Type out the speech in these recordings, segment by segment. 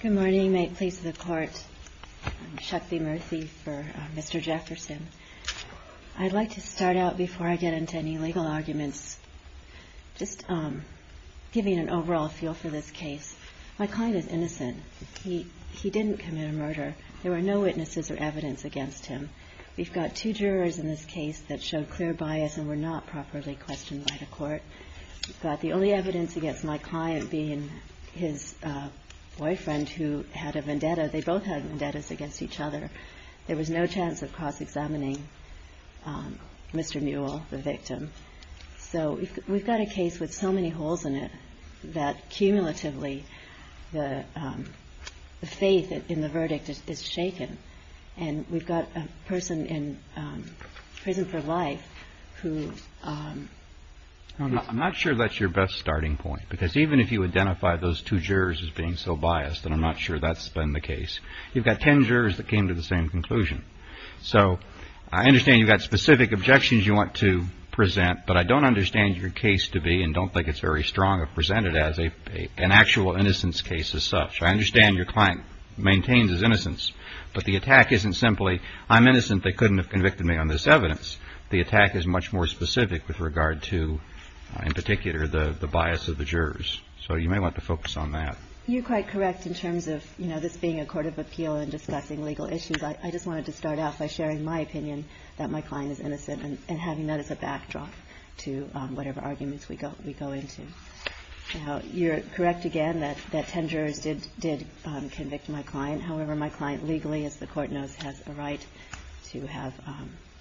Good morning. May it please the Court. I'm Shakthi Murthy for Mr. Jefferson. I'd like to start out, before I get into any legal arguments, just giving an overall feel for this case. My client is innocent. He didn't commit a murder. There were no witnesses or evidence against him. We've got two jurors in this case that showed clear bias and were not properly questioned by the court. We've got the only evidence against my client being his boyfriend, who had a vendetta. They both had vendettas against each other. There was no chance of cross-examining Mr. Muell, the victim. So we've got a case with so many holes in it that, cumulatively, the faith in the verdict is shaken. And we've got a person in prison for life who... I'm not sure that's your best starting point, because even if you identify those two jurors as being so biased, and I'm not sure that's been the case, you've got ten jurors that came to the same conclusion. So I understand you've got specific objections you want to present, but I don't understand your case to be, and don't think it's very strong, presented as an actual innocence case as such. I understand your client maintains his innocence, but the attack isn't simply, I'm innocent. They couldn't have convicted me on this evidence. The attack is much more specific with regard to, in particular, the bias of the jurors. So you may want to focus on that. You're quite correct in terms of, you know, this being a court of appeal and discussing legal issues. I just wanted to start out by sharing my opinion that my client is innocent and having that as a backdrop to whatever arguments we go into. Now, you're correct again that ten jurors did convict my client. However, my client legally, as the court knows, has a right to have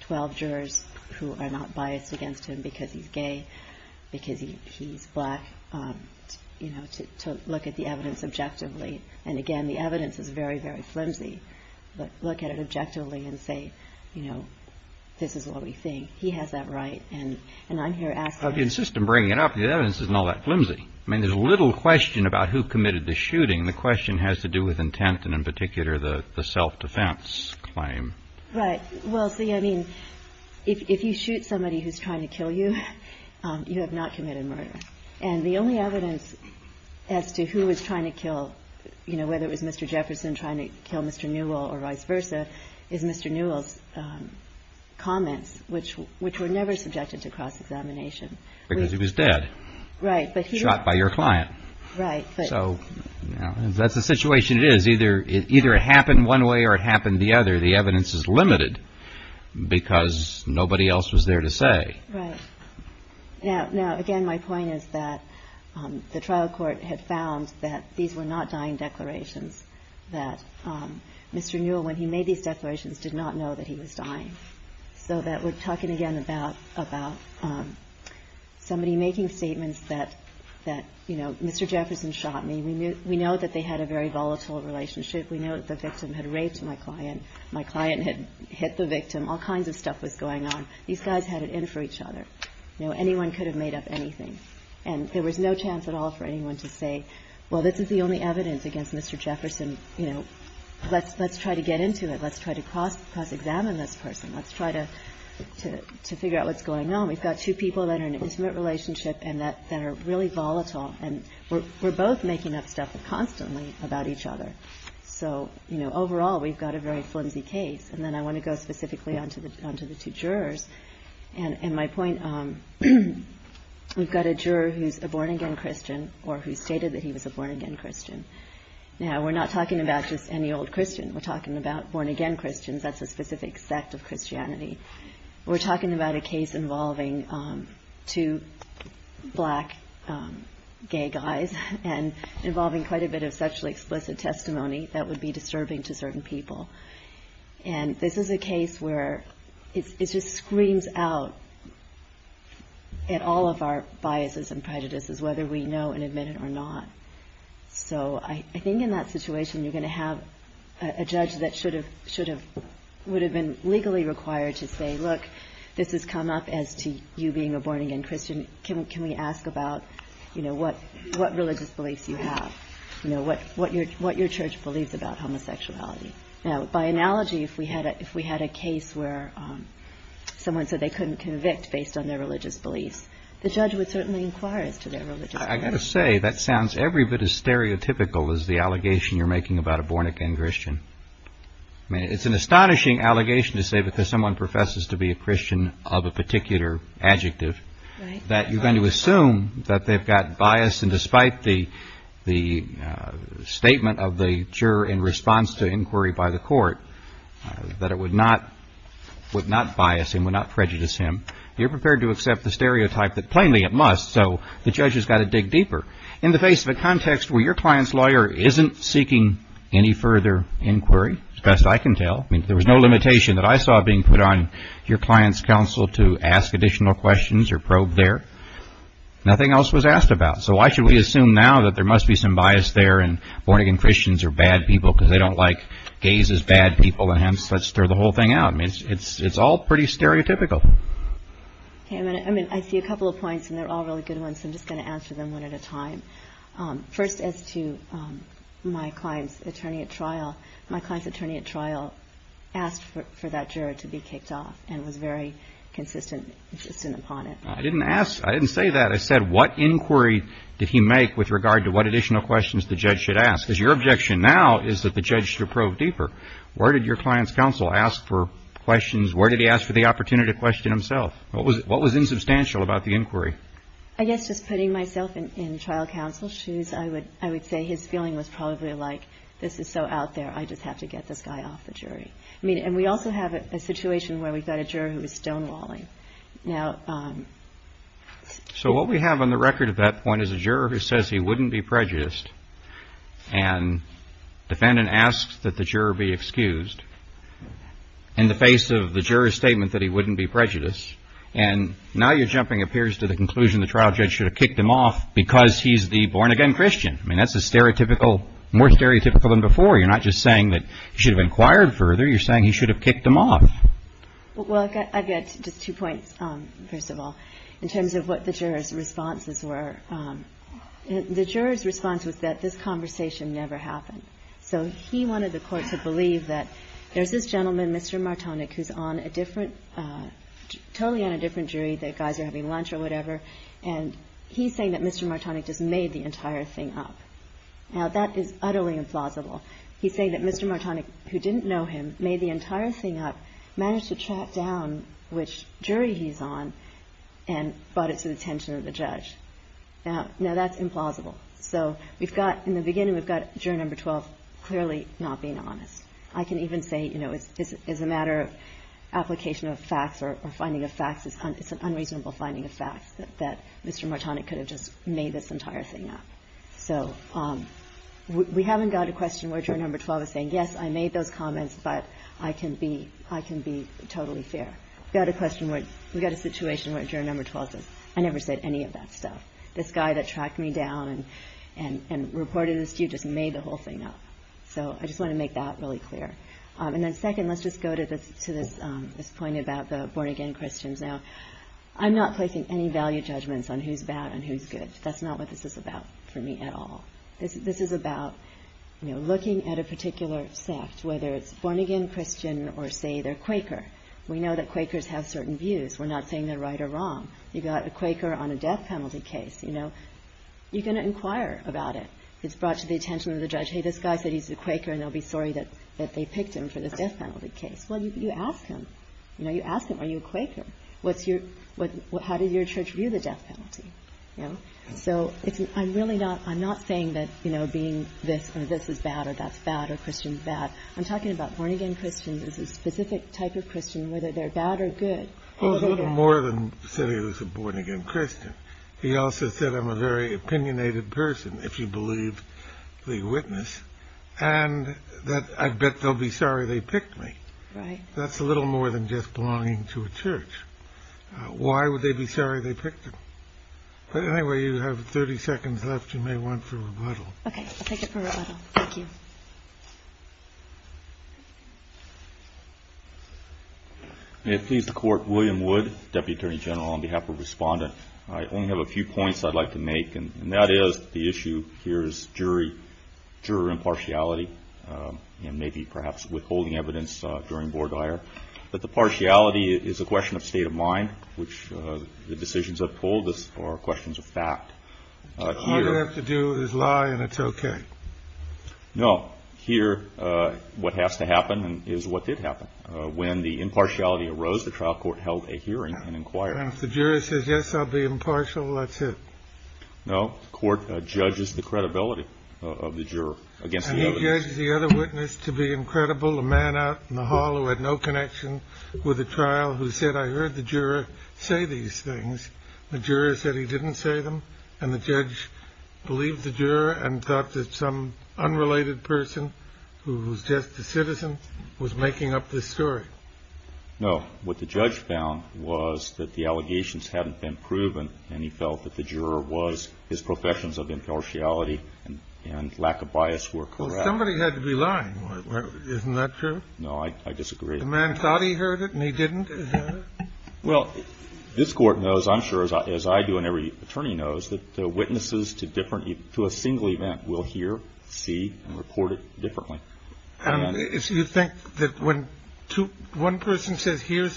12 jurors who are not biased against him because he's gay, because he's black, you know, to look at the evidence objectively. And again, the evidence is very, very flimsy, but look at it objectively and say, you know, this is what we think. He has that right, and I'm here asking... I'd insist on bringing it up. The evidence isn't all that flimsy. I mean, there's little question about who committed the shooting. The question has to do with intent and, in particular, the self-defense claim. Right. Well, see, I mean, if you shoot somebody who's trying to kill you, you have not committed murder. And the only evidence as to who was trying to kill, you know, whether it was Mr. Jefferson trying to kill Mr. Newell or vice versa, is Mr. Newell's comments, which were never subjected to cross-examination. Because he was dead. Right. Shot by your client. Right. So, you know, that's the situation it is. Either it happened one way or it happened the other. The evidence is limited because nobody else was there to say. Right. Now, again, my point is that the trial court had found that these were not dying declarations, that Mr. Newell, when he made these declarations, did not know that he was dying. So that we're talking again about somebody making statements that, you know, Mr. Jefferson shot me. We know that they had a very volatile relationship. We know that the victim had raped my client. My client had hit the victim. All kinds of stuff was going on. These guys had it in for each other. You know, anyone could have made up anything. And there was no chance at all for anyone to say, well, this is the only evidence against Mr. Jefferson. You know, let's try to get into it. Let's try to cross-examine this person. Let's try to figure out what's going on. We've got two people that are in an intimate relationship and that are really volatile. And we're both making up stuff constantly about each other. So, you know, overall, we've got a very flimsy case. And then I want to go specifically onto the two jurors. And my point, we've got a juror who's a born-again Christian or who stated that he was a born-again Christian. Now, we're not talking about just any old Christian. We're talking about born-again Christians. That's a specific sect of Christianity. We're talking about a case involving two black gay guys and involving quite a bit of sexually explicit testimony that would be disturbing to certain people. And this is a case where it just screams out at all of our biases and prejudices, whether we know and admit it or not. So I think in that situation, you're going to have a judge that would have been legally required to say, look, this has come up as to you being a born-again Christian. Can we ask about, you know, what religious beliefs you have? You know, what your church believes about homosexuality. Now, by analogy, if we had a case where someone said they couldn't convict based on their religious beliefs, the judge would certainly inquire as to their religious beliefs. I've got to say, that sounds every bit as stereotypical as the allegation you're making about a born-again Christian. I mean, it's an astonishing allegation to say because someone professes to be a Christian of a particular adjective that you're going to assume that they've got bias. And despite the statement of the juror in response to inquiry by the court that it would not bias him, would not prejudice him, you're prepared to accept the stereotype that plainly it must. So the judge has got to dig deeper. In the face of a context where your client's lawyer isn't seeking any further inquiry, as best I can tell. I mean, there was no limitation that I saw being put on your client's counsel to ask additional questions or probe there. Nothing else was asked about. So why should we assume now that there must be some bias there and born-again Christians are bad people because they don't like gays as bad people. And hence, let's throw the whole thing out. I mean, it's all pretty stereotypical. I mean, I see a couple of points and they're all really good ones. I'm just going to answer them one at a time. First, as to my client's attorney at trial, my client's attorney at trial asked for that juror to be kicked off and was very consistent upon it. I didn't ask. I didn't say that. I said, what inquiry did he make with regard to what additional questions the judge should ask? Because your objection now is that the judge should probe deeper. Where did your client's counsel ask for questions? Where did he ask for the opportunity to question himself? What was insubstantial about the inquiry? I guess just putting myself in trial counsel's shoes, I would say his feeling was probably like, this is so out there, I just have to get this guy off the jury. I mean, and we also have a situation where we've got a juror who is stonewalling. Now. So what we have on the record at that point is a juror who says he wouldn't be prejudiced. And defendant asks that the juror be excused in the face of the juror's statement that he wouldn't be prejudiced. And now you're jumping appears to the conclusion the trial judge should have kicked him off because he's the born again Christian. I mean, that's a stereotypical more stereotypical than before. You're not just saying that you should have inquired further. You're saying he should have kicked them off. Well, I've got just two points, first of all, in terms of what the juror's responses were. The juror's response was that this conversation never happened. So he wanted the Court to believe that there's this gentleman, Mr. Martonic, who's on a different, totally on a different jury. The guys are having lunch or whatever. And he's saying that Mr. Martonic just made the entire thing up. Now, that is utterly implausible. He's saying that Mr. Martonic, who didn't know him, made the entire thing up, managed to track down which jury he's on and brought it to the attention of the judge. Now, that's implausible. So we've got in the beginning, we've got juror number 12 clearly not being honest. I can even say, you know, as a matter of application of facts or finding of facts, it's an unreasonable finding of facts that Mr. Martonic could have just made this entire thing up. So we haven't got a question where juror number 12 is saying, yes, I made those comments, but I can be totally fair. We've got a situation where juror number 12 says, I never said any of that stuff. This guy that tracked me down and reported this to you just made the whole thing up. So I just want to make that really clear. And then second, let's just go to this point about the born-again Christians. Now, I'm not placing any value judgments on who's bad and who's good. That's not what this is about for me at all. This is about, you know, looking at a particular sect, whether it's born-again Christian or say they're Quaker. We know that Quakers have certain views. We're not saying they're right or wrong. You've got a Quaker on a death penalty case, you know. You can inquire about it. It's brought to the attention of the judge. Hey, this guy said he's a Quaker, and they'll be sorry that they picked him for this death penalty case. Well, you ask him. You know, you ask him, are you a Quaker? How did your church view the death penalty? You know? So I'm really not saying that, you know, being this or this is bad or that's bad or Christian is bad. I'm talking about born-again Christians as a specific type of Christian, whether they're bad or good. He was a little more than saying he was a born-again Christian. He also said, I'm a very opinionated person, if you believe the witness, and that I bet they'll be sorry they picked me. Right. That's a little more than just belonging to a church. Why would they be sorry they picked him? But anyway, you have 30 seconds left. You may want for rebuttal. Okay. I'll take it for rebuttal. Thank you. May it please the Court. William Wood, Deputy Attorney General, on behalf of Respondent. I only have a few points I'd like to make, and that is the issue here is juror impartiality and maybe perhaps withholding evidence during board hire. But the partiality is a question of state of mind, which the decisions have told us are questions of fact. All you have to do is lie, and it's okay. No. Here, what has to happen is what did happen. When the impartiality arose, the trial court held a hearing and inquired. And if the juror says, yes, I'll be impartial, that's it. No. The court judges the credibility of the juror against the evidence. A man out in the hall who had no connection with the trial who said, I heard the juror say these things. The juror said he didn't say them, and the judge believed the juror and thought that some unrelated person who was just a citizen was making up this story. No. What the judge found was that the allegations hadn't been proven, and he felt that the juror was, his professions of impartiality and lack of bias were correct. Well, somebody had to be lying. Isn't that true? No, I disagree. The man thought he heard it, and he didn't? Well, this court knows, I'm sure, as I do and every attorney knows, that the witnesses to a single event will hear, see, and report it differently. And you think that when one person says, here's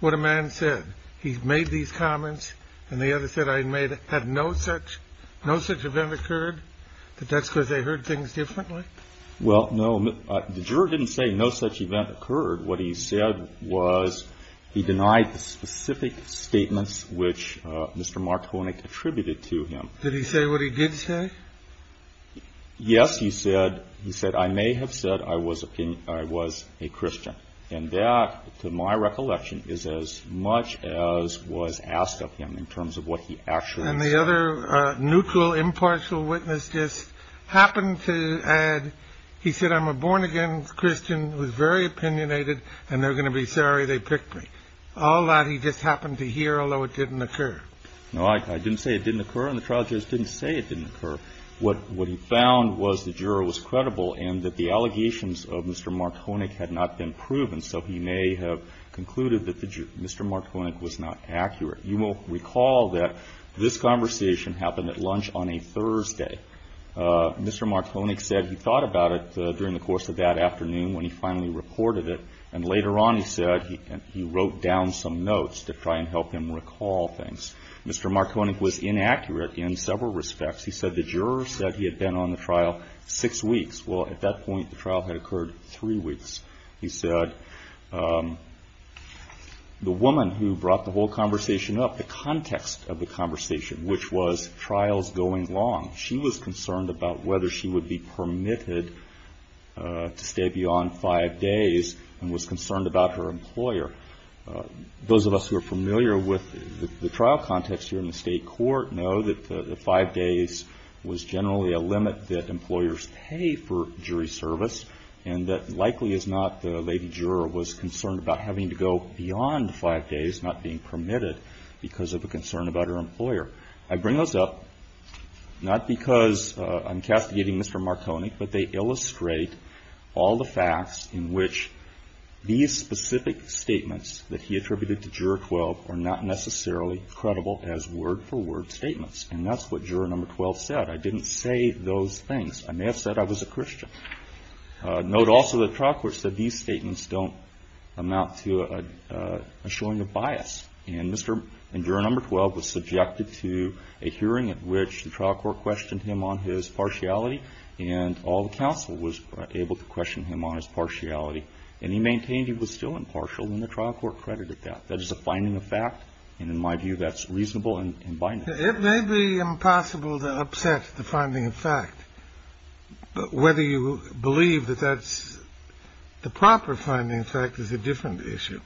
what a man said, he made these comments and the other said I made it, had no such event occurred, that that's because they heard things differently? Well, no. The juror didn't say no such event occurred. What he said was he denied the specific statements which Mr. Martonic attributed to him. Did he say what he did say? Yes, he said. He said, I may have said I was a Christian. And that, to my recollection, is as much as was asked of him in terms of what he actually said. And the other neutral, impartial witness just happened to add, he said, I'm a born-again Christian who's very opinionated, and they're going to be sorry they picked me. All that he just happened to hear, although it didn't occur. No, I didn't say it didn't occur, and the trial judge didn't say it didn't occur. What he found was the juror was credible and that the allegations of Mr. Martonic had not been proven, so he may have concluded that Mr. Martonic was not accurate. You will recall that this conversation happened at lunch on a Thursday. Mr. Martonic said he thought about it during the course of that afternoon when he finally reported it, and later on he said he wrote down some notes to try and help him recall things. Mr. Martonic was inaccurate in several respects. He said the juror said he had been on the trial six weeks. Well, at that point the trial had occurred three weeks. He said the woman who brought the whole conversation up, the context of the conversation, which was trials going long, she was concerned about whether she would be permitted to stay beyond five days and was concerned about her employer. Those of us who are familiar with the trial context here in the state court know that the five days was generally a limit that employers pay for jury service and that likely is not the lady juror was concerned about having to go beyond five days, not being permitted because of a concern about her employer. I bring those up not because I'm castigating Mr. Martonic, but they illustrate all the facts in which these specific statements that he attributed to juror 12 are not necessarily credible as word-for-word statements, and that's what juror number 12 said. I didn't say those things. I may have said I was a Christian. Note also the trial court said these statements don't amount to a showing of bias, and juror number 12 was subjected to a hearing at which the trial court questioned him on his partiality and all the counsel was able to question him on his partiality, and he maintained he was still impartial and the trial court credited that. That is a finding of fact, and in my view, that's reasonable and binary. It may be impossible to upset the finding of fact, but whether you believe that that's the proper finding of fact is a different issue.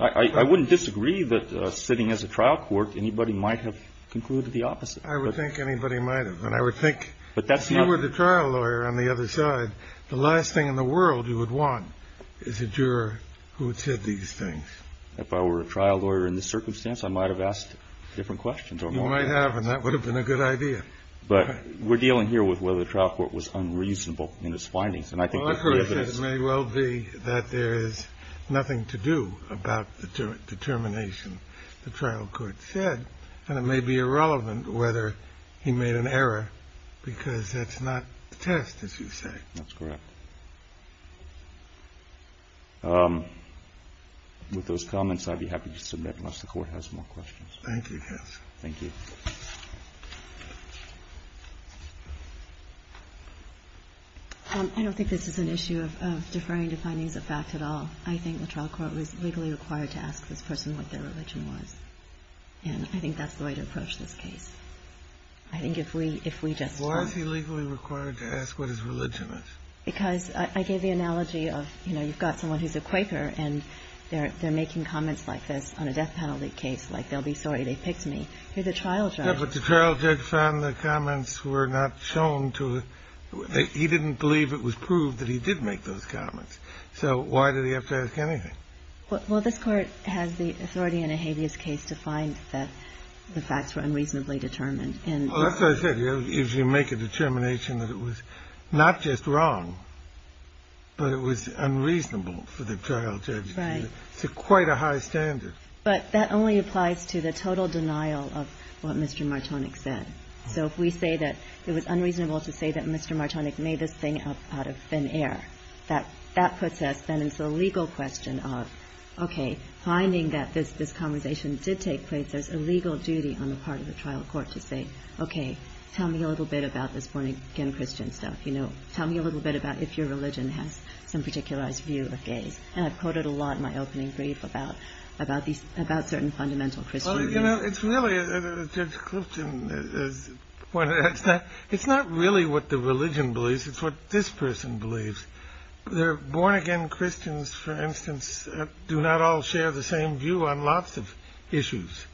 I wouldn't disagree that sitting as a trial court, anybody might have concluded the opposite. I would think anybody might have, and I would think if you were the trial lawyer on the other side, the last thing in the world you would want is a juror who had said these things. If I were a trial lawyer in this circumstance, I might have asked different questions or more. You might have, and that would have been a good idea. But we're dealing here with whether the trial court was unreasonable in its findings, and I think that the evidence may well be that there is nothing to do about the determination the trial court said, and it may be irrelevant whether he made an error because that's not the test, as you say. That's correct. With those comments, I'd be happy to submit unless the Court has more questions. Thank you, counsel. Thank you. I don't think this is an issue of deferring to findings of fact at all. I think the trial court was legally required to ask this person what their religion was, and I think that's the way to approach this case. I think if we just want to. Why is he legally required to ask what his religion is? Because I gave the analogy of, you know, you've got someone who's a Quaker, and they're making comments like this on a death penalty case, like they'll be sorry they picked me. Here's a trial judge. Yeah, but the trial judge found the comments were not shown to him. He didn't believe it was proved that he did make those comments. So why did he have to ask anything? Well, this Court has the authority in a habeas case to find that the facts were unreasonably determined. Well, that's what I said. If you make a determination that it was not just wrong, but it was unreasonable for the trial judge to do that, it's quite a high standard. But that only applies to the total denial of what Mr. Martonic said. So if we say that it was unreasonable to say that Mr. Martonic made this thing up out of thin air, that puts us, then it's a legal question of, okay, finding that this conversation did take place, there's a legal duty on the part of the trial court to say, okay, tell me a little bit about this born-again Christian stuff, you know. Tell me a little bit about if your religion has some particularized view of gays. And I've quoted a lot in my opening brief about certain fundamental Christian views. Well, you know, it's really, Judge Clifton, it's not really what the religion believes. It's what this person believes. Their born-again Christians, for instance, do not all share the same view on lots of issues.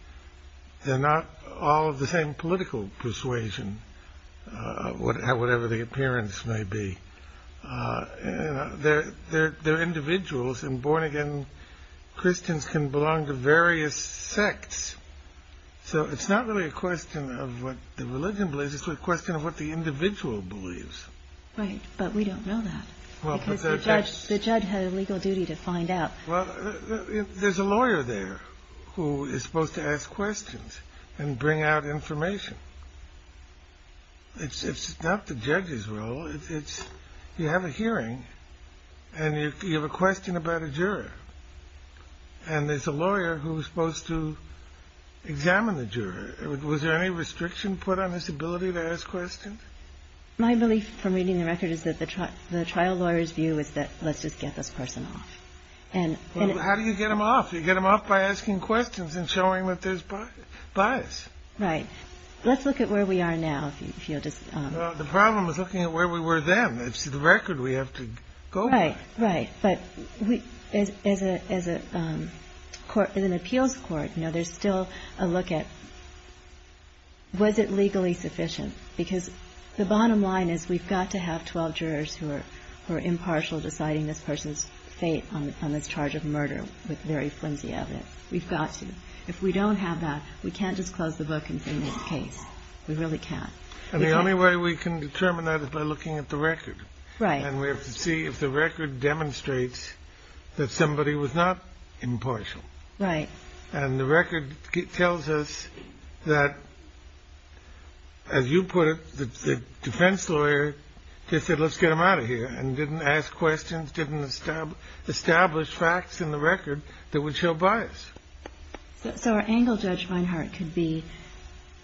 They're not all of the same political persuasion, whatever the appearance may be. They're individuals, and born-again Christians can belong to various sects. So it's not really a question of what the religion believes. It's a question of what the individual believes. Right, but we don't know that, because the judge had a legal duty to find out. Well, there's a lawyer there who is supposed to ask questions and bring out information. It's not the judge's role. You have a hearing, and you have a question about a juror. And there's a lawyer who's supposed to examine the juror. Was there any restriction put on his ability to ask questions? My belief from reading the record is that the trial lawyer's view is that let's just get this person off. How do you get them off? You get them off by asking questions and showing that there's bias. Right. Let's look at where we are now. The problem is looking at where we were then. It's the record we have to go by. Right, but as an appeals court, there's still a look at was it legally sufficient, because the bottom line is we've got to have 12 jurors who are impartial deciding this person's fate on this charge of murder with very flimsy evidence. We've got to. If we don't have that, we can't just close the book and bring this case. We really can't. And the only way we can determine that is by looking at the record. Right. And we have to see if the record demonstrates that somebody was not impartial. Right. And the record tells us that, as you put it, the defense lawyer just said let's get them out of here and didn't ask questions, didn't establish facts in the record that would show bias. So our angle, Judge Feinhart, could be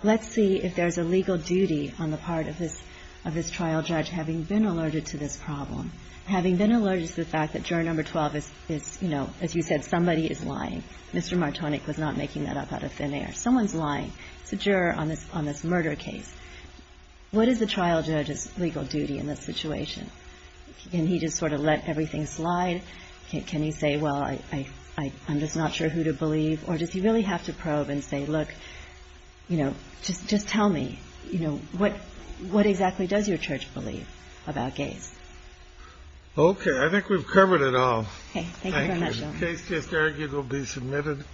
let's see if there's a legal duty on the part of this trial judge having been alerted to this problem, having been alerted to the fact that juror number 12 is, you know, as you said, somebody is lying. Mr. Martonic was not making that up out of thin air. Someone's lying. It's a juror on this murder case. What is the trial judge's legal duty in this situation? Can he just sort of let everything slide? Can he say, well, I'm just not sure who to believe? Or does he really have to probe and say, look, you know, just tell me, you know, what exactly does your church believe about gays? Okay. I think we've covered it all. Okay. Thank you very much. Case just argued will be submitted.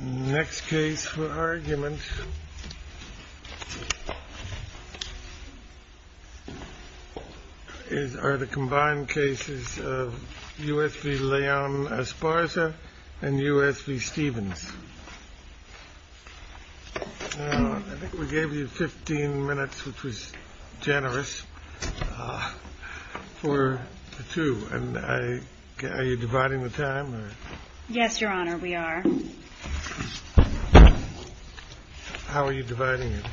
Next case for argument. Is are the combined cases of U.S. V. Leon Esparza and U.S. V. Stevens. We gave you 15 minutes, which was generous for two. And I guess you're dividing the time. Yes, Your Honor. We are. How are you dividing it?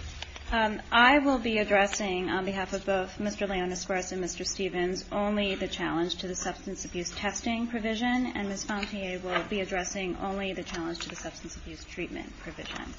I will be addressing on behalf of both Mr. Leon Esparza and Mr. Stevens only the challenge to the substance abuse testing provision. And Ms. Fontier will be addressing only the challenge to the substance abuse treatment provision.